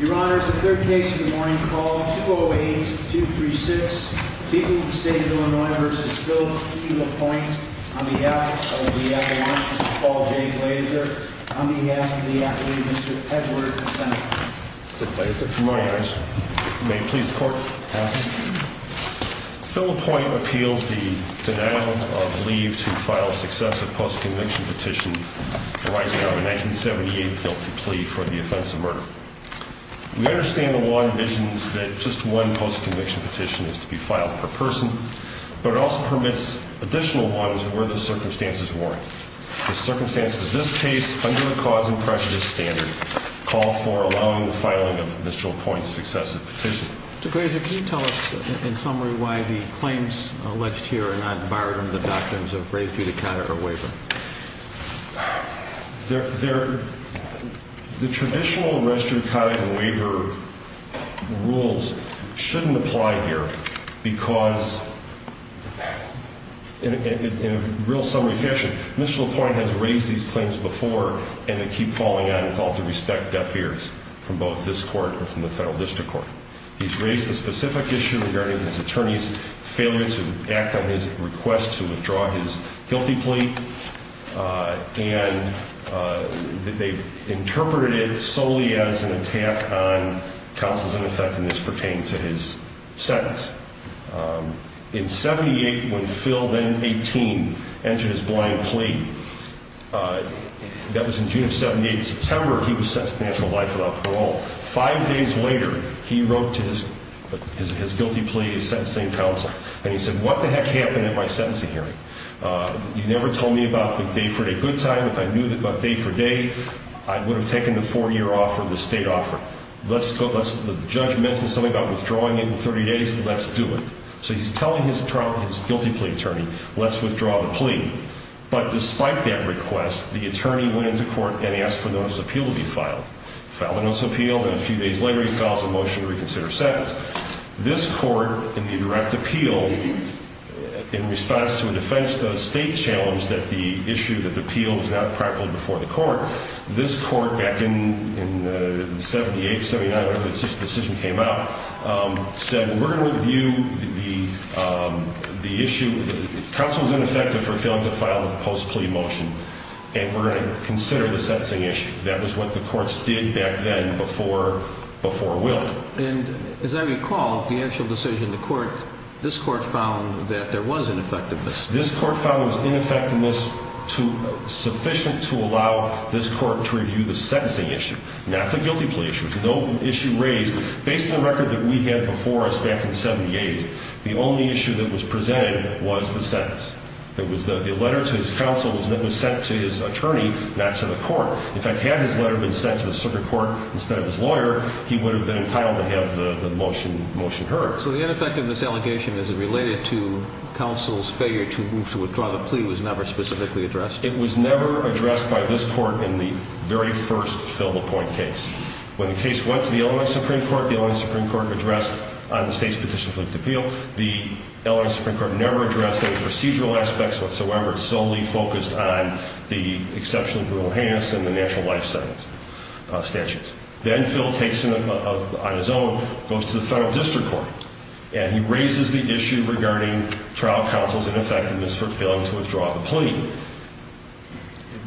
Your Honor, this is the third case of the morning. Call 208-236, beating the State of Illinois v. Phil LaPointe on behalf of the Appellant, Mr. Paul J. Glazer, on behalf of the Appellate, Mr. Edward Sennett. Good morning, Your Honor. May it please the Court? Phil LaPointe appeals the denial of leave to file successive post-conviction petition arising out of a 1978 guilty plea for the offense of murder. We understand the law envisions that just one post-conviction petition is to be filed per person, but it also permits additional ones where the circumstances warrant. The circumstances of this case, under the cause and prejudice standard, call for allowing the filing of Mr. LaPointe's successive petition. Mr. Glazer, can you tell us, in summary, why the claims alleged here are not barred under the doctrines of res judicata or waiver? The traditional res judicata and waiver rules shouldn't apply here because in a real summary fashion, Mr. LaPointe has raised these claims before, and they keep falling out. It's all to respect deaf ears from both this Court and from the Federal District Court. He's raised a specific issue regarding his attorney's failure to act on his request to withdraw his guilty plea, and they've interpreted it solely as an attack on counsel's ineffectiveness pertaining to his sentence. In 1978, when Phil, then 18, entered his blind plea, that was in June of 1978, in September, he was sentenced to natural life without parole. Five days later, he wrote to his guilty plea, his sentencing counsel, and he said, what the heck happened in my sentencing hearing? You never told me about the day-for-day good time. If I knew about day-for-day, I would have taken the four-year offer, the state offer. The judge mentioned something about withdrawing in 30 days. Let's do it. So he's telling his guilty plea attorney, let's withdraw the plea. But despite that request, the attorney went into court and asked for notice of appeal to be filed. Filed a notice of appeal, and a few days later, he files a motion to reconsider sentence. This Court in the direct appeal, in response to a defense state challenge that the issue of the appeal was not practical before the Court, this Court, back in the 78, 79, when the decision came out, said, we're going to review the issue. Counsel's ineffective for failing to file the post-plea motion, and we're going to consider the sentencing issue. That was what the Courts did back then before Will. And as I recall, the actual decision, the Court, this Court found that there was ineffectiveness. This Court found there was ineffectiveness sufficient to allow this Court to review the sentencing issue, not the guilty plea issue. No issue raised. Based on the record that we had before us back in 78, the only issue that was presented was the sentence. There was the letter to his counsel that was sent to his attorney, not to the Court. In fact, had his letter been sent to the circuit court instead of his lawyer, he would have been entitled to have the motion heard. So the ineffectiveness allegation, as it related to counsel's failure to move to withdraw the plea, was never specifically addressed? It was never addressed by this Court in the very first fill the point case. When the case went to the Illinois Supreme Court, the Illinois Supreme Court addressed on the state's petition for an appeal. The Illinois Supreme Court never addressed any procedural aspects whatsoever. It solely focused on the exceptionally brutal hands and the natural life sentence statutes. Then Phil takes it on his own and goes to the federal district court. And he raises the issue regarding trial counsel's ineffectiveness for failing to withdraw the plea.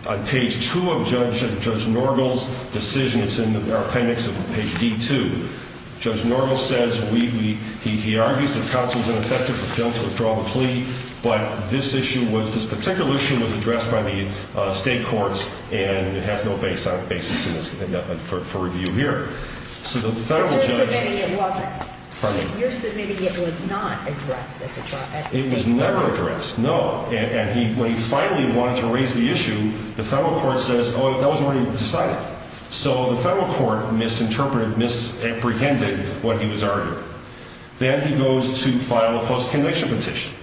On page 2 of Judge Norgel's decision, it's in our appendix on page D2, Judge Norgel says he argues that counsel's ineffective for failing to withdraw the plea, but this issue was, this particular issue was addressed by the state courts and it has no basis for review here. But you're submitting it wasn't? Pardon me? You're submitting it was not addressed at the state court? It was never addressed, no. And when he finally wanted to raise the issue, the federal court says oh, that was already decided. So the federal court misinterpreted, misapprehended what he was arguing. Then he goes to file a post-conviction petition,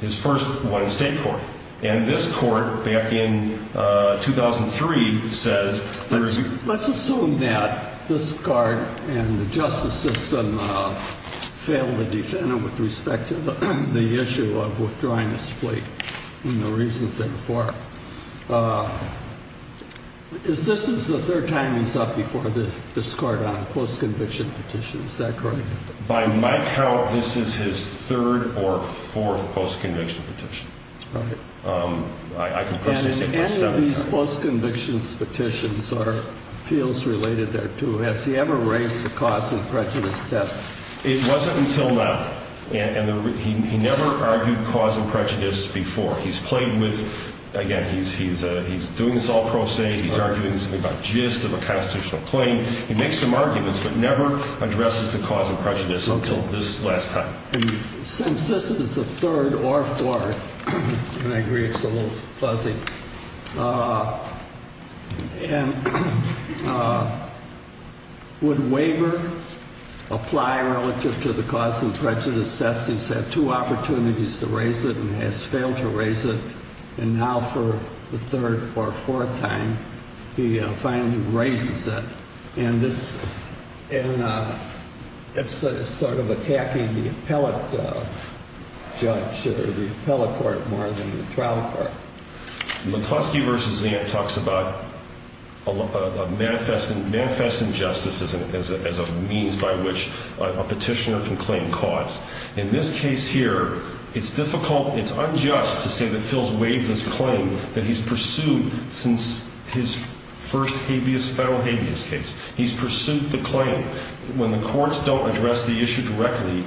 his first one in state court. And this court, back in 2003, says Let's assume that this court and the justice system failed to defend him with respect to the issue of withdrawing his plea. Is this the third time he's up before this court on a post-conviction petition? Is that correct? By my count, this is his third or fourth post-conviction petition. And in any of these post-conviction petitions or appeals related there too, has he ever raised the cause and prejudice test? It wasn't until now. And he never argued cause and prejudice before. He's played with, again, he's doing this all pro se. He's arguing this about gist of a constitutional claim. He makes some arguments, but never addresses the cause and prejudice until this last time. And since this is the third or fourth, and I agree it's a little fuzzy, would waiver apply relative to the cause and prejudice test? He's had two opportunities to raise it and has failed to raise it. And now for the third or fourth time, he finally raises it. And this is sort of attacking the appellate judge or the appellate court more than the trial court. McCluskey v. Zant talks about a manifest injustice as a means by which a petitioner can claim cause. In this case here, it's difficult, it's unjust to say that Phil's waived this claim that he's pursued since his first federal habeas case. He's pursued the claim. When the courts don't address the issue directly,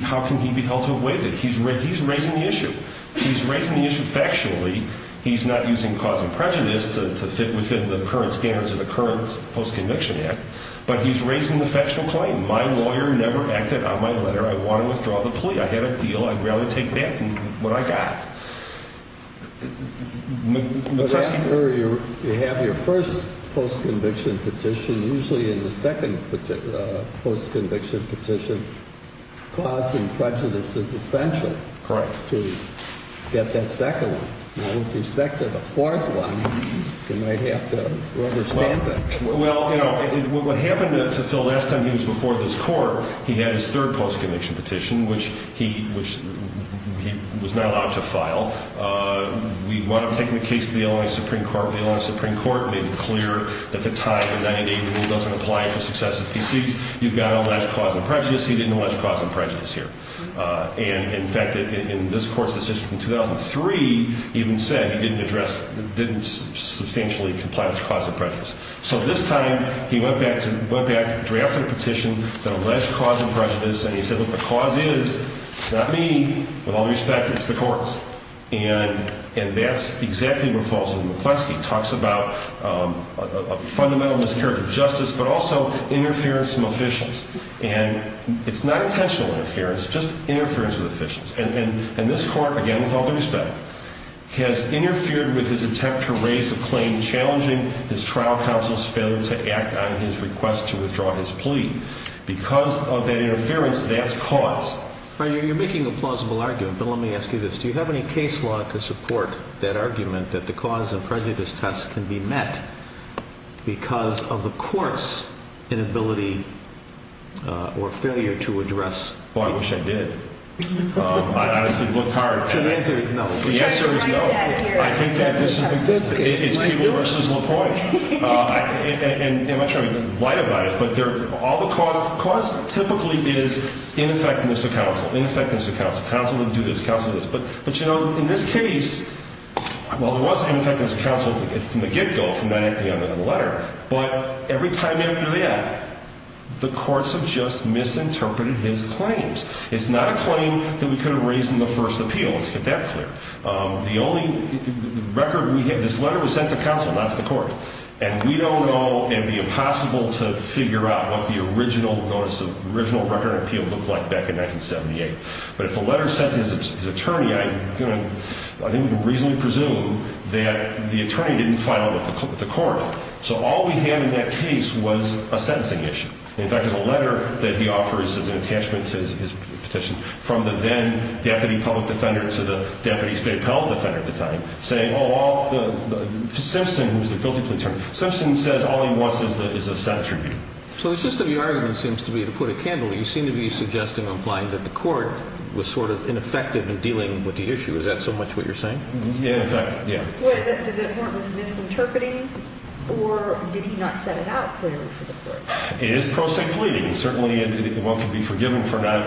how can he be held to have waived it? He's raising the issue. He's raising the issue factually. He's not using cause and prejudice to fit within the current standards of the current Post-Conviction Act, but he's raising the factual claim. My lawyer never acted on my letter. I want to withdraw the plea. I had a deal. I'd rather take that than what I got. McCluskey? You have your first post-conviction petition. Usually in the second post-conviction petition, cause and prejudice is essential to get that second one. With respect to the fourth one, you might have to understand that. Well, what happened to Phil last time he was before this court, he had his third post-conviction petition, which he was not allowed to file. We wound up taking the case to the Illinois Supreme Court. The Illinois Supreme Court made it clear at the time the 90-day rule doesn't apply for successive PCs. You've got to allege cause and prejudice. He didn't allege cause and prejudice here. In fact, in this court's decision from 2003, he even said he didn't substantially comply with cause and prejudice. So this time, he went back and drafted a petition that alleged cause and prejudice, and he said, look, the cause is not me. With all due respect, it's the courts. And that's exactly what falls in McCluskey. It talks about a fundamental mischaracter of justice, but also interference from officials. And it's not intentional interference, just interference with officials. And this court, again, with all due respect, has interfered with his attempt to raise a claim challenging his trial counsel's failure to act on his request to withdraw his plea. Because of that You're making a plausible argument, but let me ask you this. Do you have any case law to support that argument that the cause and prejudice test can be met because of the court's inability or failure to address... Oh, I wish I did. I honestly looked hard at it. So the answer is no. The answer is no. I think that this is people versus LaPoint. And I'm not trying to be light about it, but all the cause... Cause typically is ineffectiveness of counsel. Ineffectiveness of counsel. Counsel didn't do this. Counsel did this. But you know, in this case, well, there was ineffectiveness of counsel from the get-go, from the letter. But every time after the act, the courts have just misinterpreted his claims. It's not a claim that we could have raised in the first appeal. Let's get that clear. The only record we have... This letter was sent to counsel, not to the court. And we don't know, it would be impossible to figure out what the original record of appeal looked like back in 1978. But if the letter is sent to his attorney, I think we can reasonably presume that the attorney didn't file it with the court. So all we have in that case was a sentencing issue. In fact, there's a letter that he offers as an attachment to his petition from the then deputy public defender to the deputy state appellate defender at the time saying, oh, Simpson, who's the guilty plea attorney, Simpson says all he wants is a set tribute. So it's just that the argument seems to be, to put it candidly, you seem to be suggesting or implying that the court was sort of ineffective in dealing with the issue. Is that so much what you're saying? In effect, yes. Was it that the court was misinterpreting, or did he not set it out clearly for the court? It is pro se pleading. Certainly, one can be forgiven for not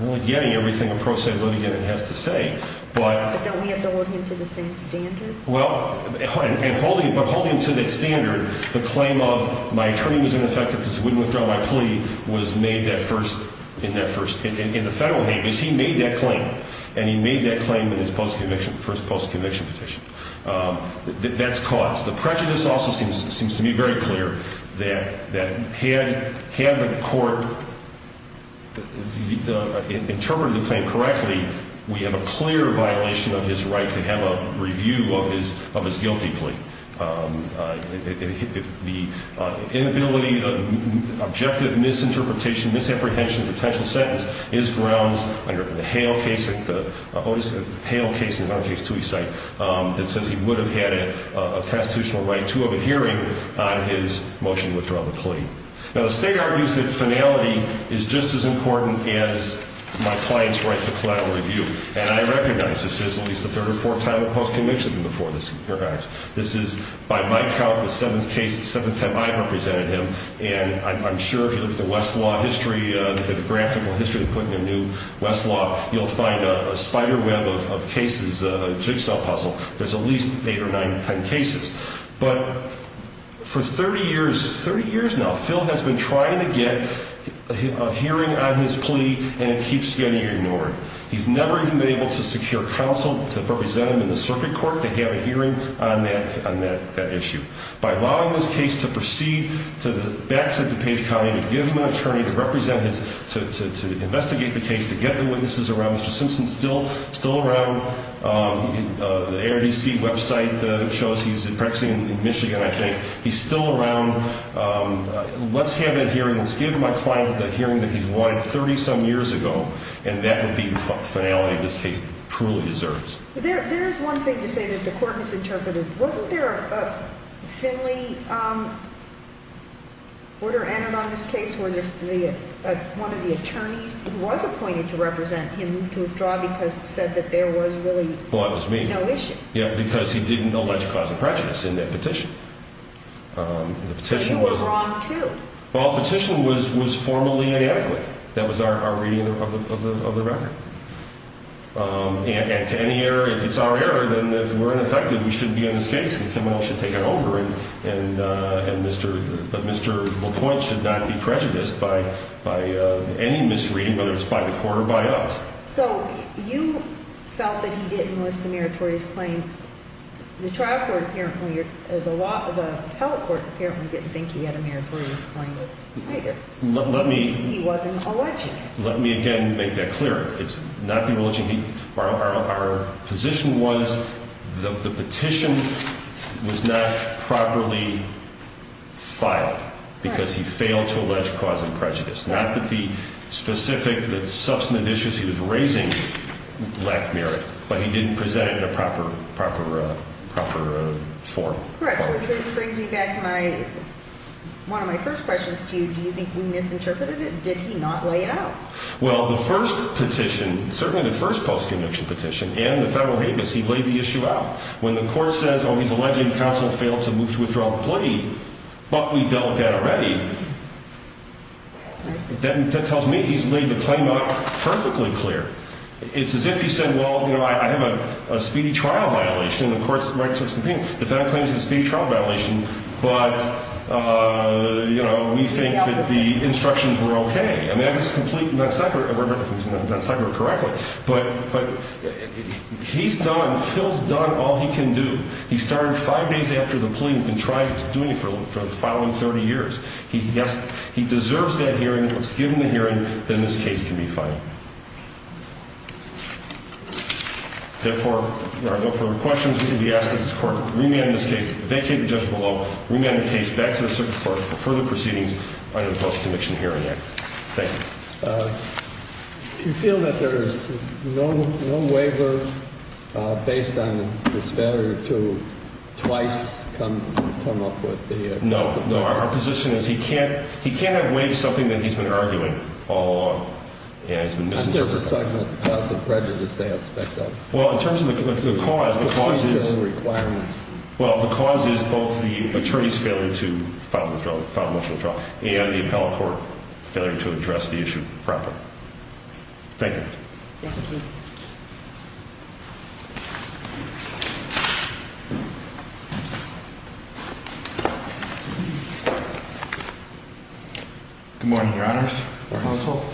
really getting everything a pro se pleading has to say. But don't we have to hold him to the same standard? Well, holding him to that standard, the claim of my attorney was ineffective because he wouldn't withdraw my plea was made in the federal case. He made that claim. And he made that claim for his post-conviction petition. That's caused. The prejudice also seems to me very clear that had the court interpreted the claim correctly, we have a clear violation of his right to have a review of his guilty plea. The inability, the objective misinterpretation, misapprehension of the potential sentence is grounds under the Hale case, the Hale case and the other case, that says he would have had a constitutional right to have a hearing on his motion to withdraw the plea. Now, the state argues that finality is just as important as my client's right to collateral review. And I recognize this is at least the third or fourth time a post-conviction before this. This is by my count the seventh case, the seventh time I've represented him. And I'm sure if you look at the Westlaw history, the graphical history of putting a new Westlaw, you'll find a spider web of cases, a jigsaw puzzle. There's at least eight or nine, ten cases. But for 30 years, 30 years now, Phil has been trying to get a hearing on his plea and it hasn't been able to secure counsel to represent him in the circuit court to have a hearing on that issue. By allowing this case to proceed back to DuPage County to give him an attorney to represent his, to investigate the case, to get the witnesses around. Mr. Simpson's still around. The ARDC website shows he's practicing in Michigan, I think. He's still around. Let's have that hearing. Let's give my client the hearing that he's wanted 30-some years ago. And that would be the finality this case truly deserves. There is one thing to say that the court misinterpreted. Wasn't there a Finley order entered on this case where one of the attorneys who was appointed to represent him moved to withdraw because he said that there was really no issue? Yeah, because he didn't allege cause of prejudice in that petition. But you were wrong, too. Well, the petition was formally inadequate. That was our reading of the record. And to any error, if it's our error, then if we're ineffective, we should be in this case and someone else should take it over. But Mr. LaPointe should not be prejudiced by any misreading, whether it's by the court or by us. So you felt that he didn't list a meritorious claim. The trial court apparently, the appellate court apparently didn't think he had a meritorious claim. He wasn't alleging it. Let me again make that clear. Our position was the petition was not properly filed because he failed to allege cause of prejudice. Not that the specific substantive issues he was raising lacked merit, but he didn't present it in a proper form. Correct. Which brings me back to my one of my first questions to you. Do you think we misinterpreted it? Did he not lay it out? Well, the first petition, certainly the first post-conviction petition and the federal habeas, he laid the issue out. When the court says, oh, he's alleging counsel failed to move to withdraw the plea, but we dealt with that already. That tells me he's laid the claim out perfectly clear. It's as if he said, well, you know, I have a speedy trial violation and the court's meritorious complaint. The federal habeas is not the case. But, you know, we think that the instructions were okay. And that is completely not separate. He's not separate correctly. But he's done, Phil's done all he can do. He started five days after the plea and tried doing it for the following 30 years. He deserves that hearing. Let's give him the hearing. Then this case can be filed. Therefore, if there are questions we can be asked at this court. Bring me on this case. Vacate the judge below. Bring me on the case back to the circuit court for further proceedings under the Post-Conviction Hearing Act. Thank you. Do you feel that there is no waiver based on the disparity to twice come up with the... No. No. Our position is he can't he can't have waived something that he's been arguing all along. And he's been misinterpreted. I'm just talking about the cause of prejudice aspect of it. Well, in terms of the cause, the cause is... The procedural requirements. Well, the cause is both the attorney's failure to file a motion to withdraw and the appellate court failure to address the issue properly. Thank you. Good morning, your honors, your household.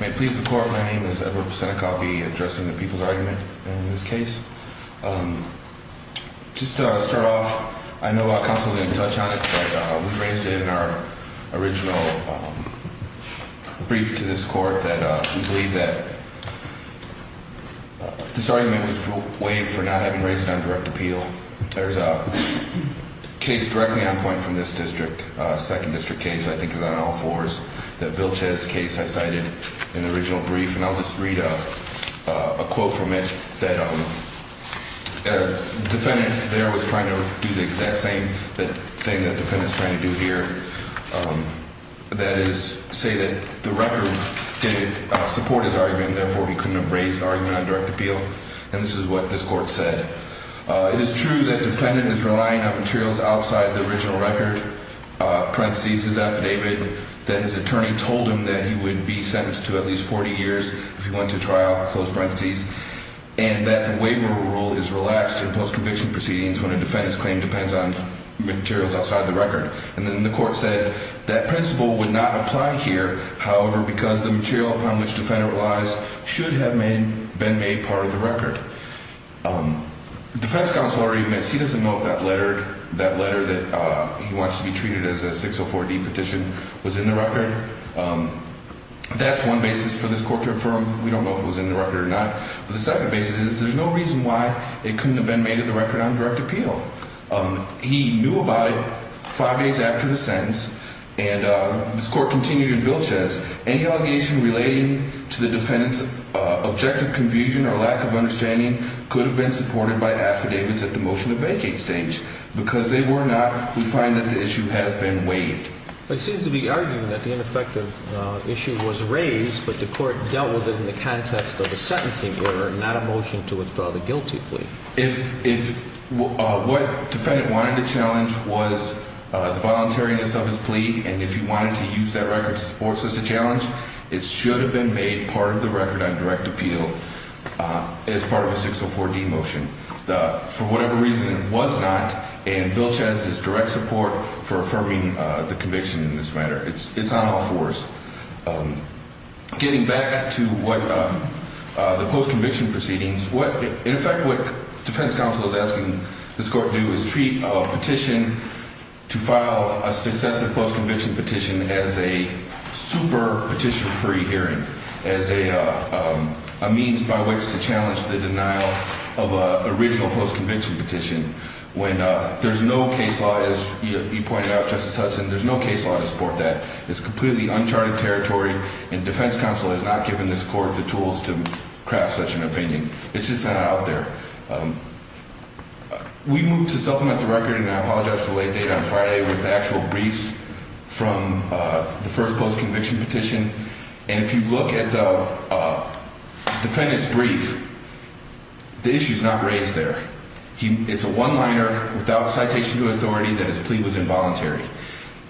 May it please the court, my name is Robert Psenak. I'll be addressing the people's argument in this case. Just to start off, I know counsel didn't touch on it but we raised it in our original brief to this court that we believe that this argument was waived for not having raised it on direct appeal. There's a case directly on point from this district, a second district case I think is on all fours, that Vilches case I cited in the original brief, and I'll just read a quote from it that the defendant there was trying to do the exact same thing that the defendant's trying to do here. That is, say that the record didn't support his argument, therefore he couldn't have raised the argument on direct appeal. And this is what this court said. It is true that the defendant is relying on materials outside the original record, parentheses his affidavit, that his attorney told him that he would be sentenced to at least 40 years if he went to trial, close parentheses, and that the waiver rule is relaxed in post-conviction proceedings when a defendant's claim depends on materials outside the record. And then the court said that principle would not apply here, however, because the material upon which the defendant relies should have been made part of the record. The defense counsel already admits he doesn't know if that letter that he wants to be treated as a case of 4D petition was in the record. That's one basis for this court to affirm. We don't know if it was in the record or not. But the second basis is there's no reason why it couldn't have been made of the record on direct appeal. He knew about it five days after the sentence, and this court continued in Vilches, any allegation relating to the defendant's objective confusion or lack of understanding could have been supported by affidavits at the motion to vacate stage. Because they were not, we find that the issue has been waived. It seems to be argued that the ineffective issue was raised, but the court dealt with it in the context of a sentencing order, not a motion to withdraw the guilty plea. If what the defendant wanted to challenge was the voluntariness of his plea, and if he wanted to use that record as a challenge, it should have been made part of the record on direct appeal as part of a 604D motion. For whatever reason, it was not, and Vilches is direct support for affirming the conviction in this matter. It's on all fours. Getting back to the post-conviction proceedings, in effect what defense counsel is asking this court to do is treat a petition to file a successive post-conviction petition as a super petition-free hearing, as a means by which to challenge the denial of an actual post-conviction petition, when there's no case law, as you pointed out, Justice Hudson, there's no case law to support that. It's completely uncharted territory, and defense counsel has not given this court the tools to craft such an opinion. It's just not out there. We moved to supplement the record, and I apologize for the late date on Friday, with the actual briefs from the first post-conviction petition, and if you look at the defendant's brief, the issue's not raised there. It's a one-liner without citation to authority that his plea was involuntary.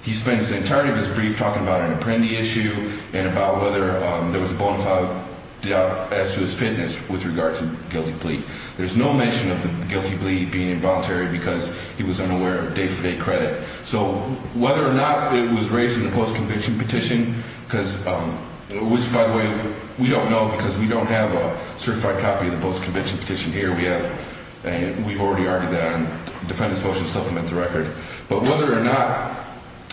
He spends the entirety of his brief talking about an apprendee issue, and about whether there was a bonafide doubt as to his fitness with regard to the guilty plea. There's no mention of the guilty plea being involuntary because he was unaware of day-for-day credit. So whether or not it was raised in the post-conviction petition, which by the way, we don't know because we don't have a certified copy of the post-conviction petition here. We've already argued that on the defendant's motion to supplement the record. But whether or not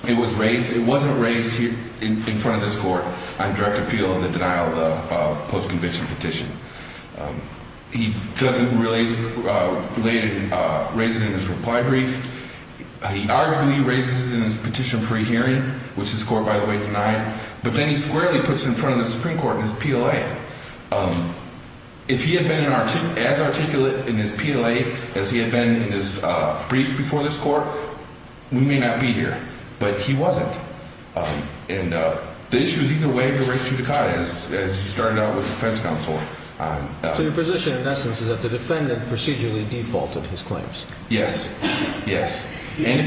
it was raised, it wasn't raised in front of this court on direct appeal of the denial of the post-conviction petition. He doesn't really raise it in his reply brief. He arguably raises it in his petition-free hearing, which this court by the way denied, but then he squarely puts it in front of the Supreme Court in his PLA. If he had been as articulate in his PLA as he had been in his brief before this court, we may not be here. But he wasn't. And the issue is either way of the res judicata as you started out with the defense counsel. So your position in essence is that the defendant procedurally defaulted his claims? Yes. Yes. And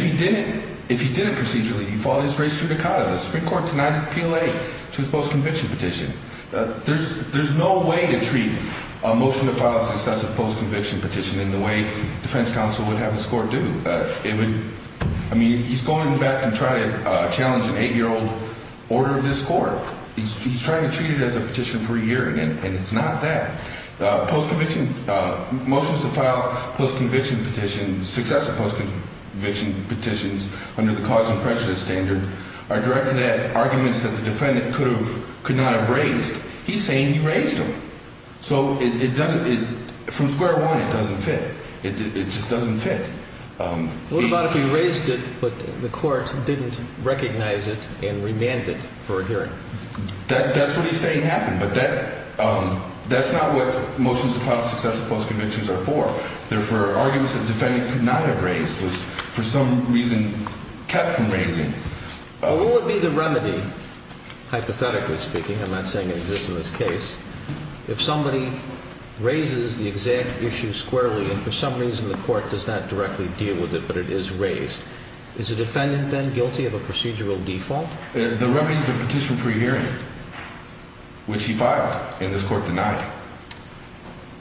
if he didn't procedurally default his res judicata, the Supreme Court would not have a post-conviction petition. There's no way to treat a motion to file a successive post-conviction petition in the way defense counsel would have this court do. I mean, he's going back and trying to challenge an eight-year-old order of this court. He's trying to treat it as a petition-free hearing, and it's not that. Post-conviction motions to file post-conviction petitions, successive post-conviction petitions under the cause and prejudice standard are directed at arguments that the defendant could not have raised. He's saying he raised them. So from square one, it doesn't fit. It just doesn't fit. What about if he raised it, but the court didn't recognize it and remanded it for a hearing? That's what he's saying happened, but that's not what motions to file successive post-convictions are for. They're for arguments that the defendant could not have raised, was for some reason kept from raising. What would be the remedy, hypothetically speaking, I'm not saying it exists in this case, if somebody raises the exact issue squarely and for some reason the court does not directly deal with it but it is raised? Is the defendant then guilty of a procedural default? The remedy is a petition-free hearing, which he filed and this court denied.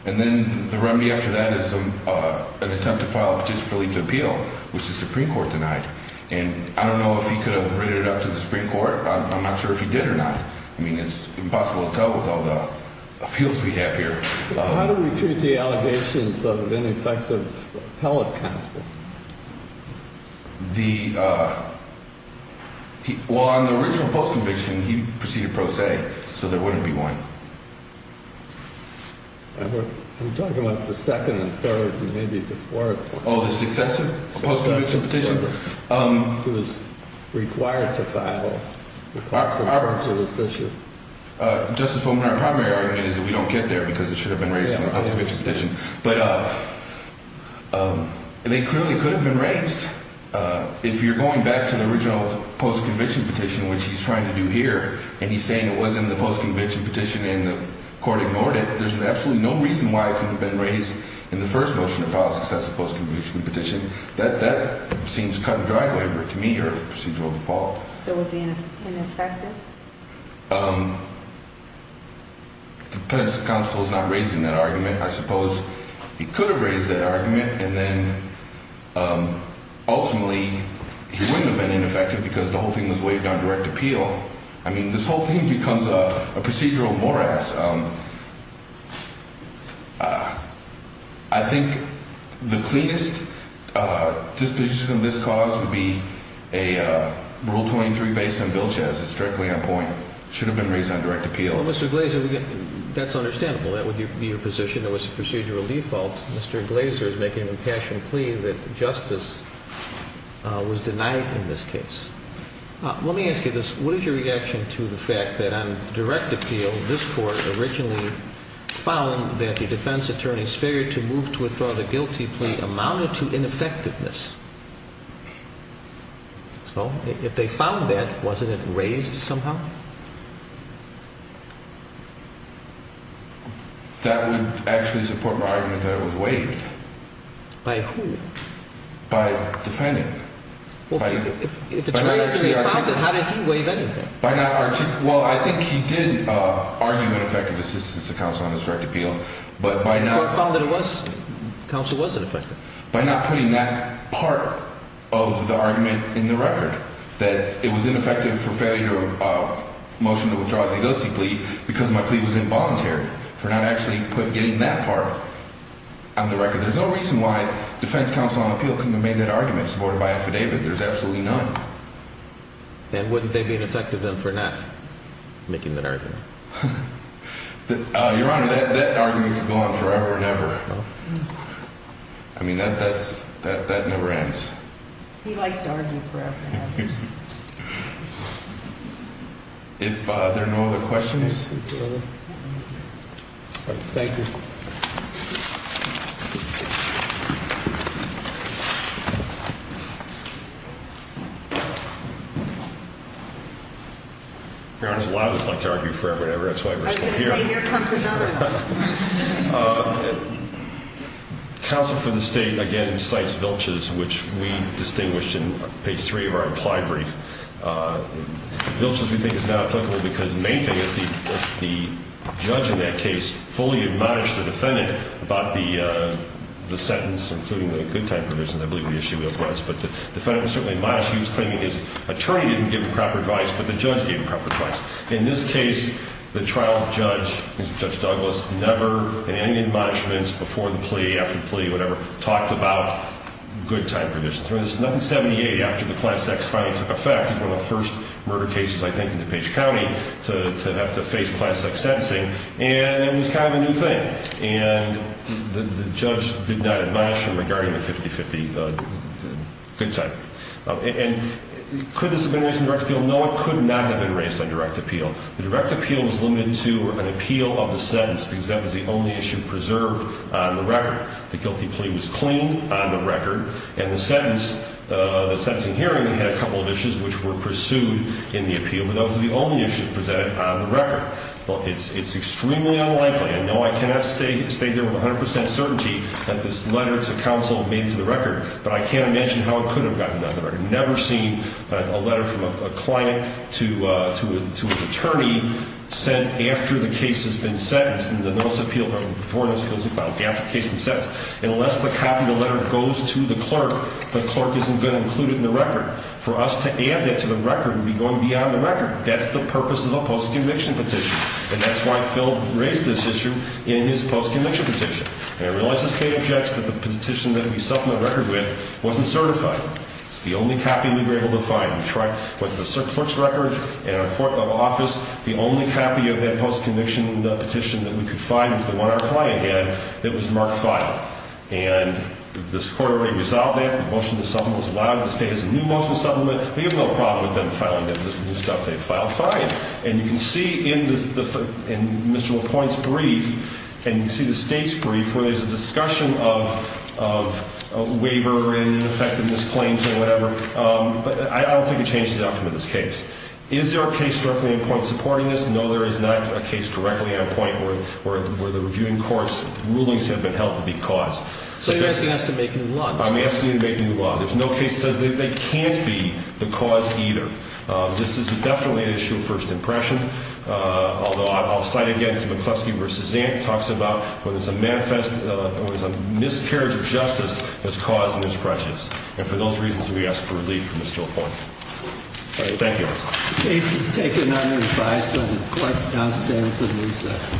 And then the remedy after that is an attempt to file a petition for leave to appeal, which the Supreme Court denied. And I don't know if he could have written it up to the Supreme Court. I'm not sure if he did or not. I mean, it's impossible to tell with all the appeals we have here. How do we treat the allegations of ineffective appellate counsel? Well, on the original post-conviction, he proceeded pro se, so there wouldn't be one. I'm talking about the second and third and maybe the fourth. Oh, the successive post-conviction petition? It was required to file. Justice Bowman, our primary argument is that we don't get there because it should have been raised in the post-conviction petition. But they clearly could have been raised. If you're going back to the original post-conviction petition, which he's trying to do here, and he's saying it was in the post-conviction petition and the court ignored it, there's absolutely no reason why it couldn't have been raised in the first motion to file a successive post-conviction petition. That seems cut and dry labor to me or procedural default. So was he ineffective? The appellate counsel is not raising that argument. I suppose he could have raised that argument and then ultimately he wouldn't have been ineffective because the whole thing was waived on direct appeal. I mean, this whole thing becomes a procedural morass. I think the cleanest disposition of this cause would be a Rule 23 based on Bill Chess. It's directly on point. It should have been raised on direct appeal. Well, Mr. Glazer, that's understandable. That would be your position. It was a procedural default. Mr. Glazer is making an impassioned plea that justice was denied in this case. Let me ask you this. What is your reaction to the fact that on direct appeal this Court originally found that the defense attorney's failure to move to withdraw the guilty plea amounted to ineffectiveness? So if they found that, wasn't it raised somehow? That would actually support my argument that it was waived. By who? By the defendant. If the defense attorney found it, how did he do it? I think he did argue an effective assistance to counsel on this direct appeal. But by not putting that part of the argument in the record, that it was ineffective for failure of motion to withdraw the guilty plea because my plea was involuntary, for not actually getting that part on the record. There's no reason why defense counsel on appeal couldn't have made that argument. Supported by affidavit, there's absolutely none. And wouldn't there be an effect of them for not making that argument? Your Honor, that argument could go on forever and ever. I mean, that never ends. He likes to argue forever and ever. Thank you. Your Honor, a lot of us like to argue forever and ever. That's why we're still here. Counsel for the State, again, cites Vilches, which we distinguished in page 3 of our implied brief. Vilches, we think, is not applicable because the main thing is the judge in that case fully admonished the defendant about the sentence, including the good time provisions. I believe we issued it once. But the defendant was certainly admonished. He was claiming his attorney didn't give him proper advice, but the judge gave him proper advice. In this case, the trial judge, Judge Douglas, never in any admonishments before the plea, after the plea, whatever, talked about good time provisions. In 1978, after the Class X finally took effect, it was one of the first murder cases, I think, in DePage County to have to face Class X sentencing. And it was kind of a new thing. And the judge did not admonish him regarding the 50-50 good time. Could this have been raised in direct appeal? No, it could not have been raised in direct appeal. The direct appeal was limited to an appeal of the sentence because that was the only issue preserved on the record. The guilty plea was clean on the record. And the sentencing hearing had a couple of issues which were pursued in the appeal, but those were the only issues presented on the record. It's extremely unlikely, and no, I cannot stay here with 100 percent certainty that this letter to counsel made it to the record, but I can't imagine how it could have gotten on the record. I've never seen a letter from a client to an attorney sent after the case has been sentenced in the notice of appeal, before the notice of appeal has been filed, after the case has been sentenced. Unless the copy of the letter goes to the clerk, the clerk isn't going to include it in the record. For us to add that to the record would be going beyond the record. That's the purpose of a post-conviction petition. And that's why Phil raised this issue in his post-conviction petition. And I realize the state objects that the petition that we supplemented the record with wasn't certified. It's the only copy we were able to find. We tried with the clerk's record in our court level office. The only copy of that post-conviction petition that we could find was the one our client had that was marked filed. And this court already resolved that. The motion to supplement was allowed. The state has a new motion to supplement. We have no problem with them filing that new stuff. They filed fine. And you can see in Mr. LaPointe's brief, and you can see the state's brief, where there's a discussion of waiver and ineffectiveness claims and whatever. But I don't think it changes the outcome of this case. Is there a case directly on point supporting this? No, there is not a case directly on point where the reviewing court's rulings have been held to be cause. So you're asking us to make new law? I'm asking you to make new law. There's no case that says they can't be the cause either. This is definitely an issue of first impression. Although I'll cite again to McCluskey where Cezanne talks about where there's a miscarriage of justice that's caused in this process. And for those reasons, we ask for relief from Mr. LaPointe. Thank you. The case is taken under advice of the court downstairs in recess.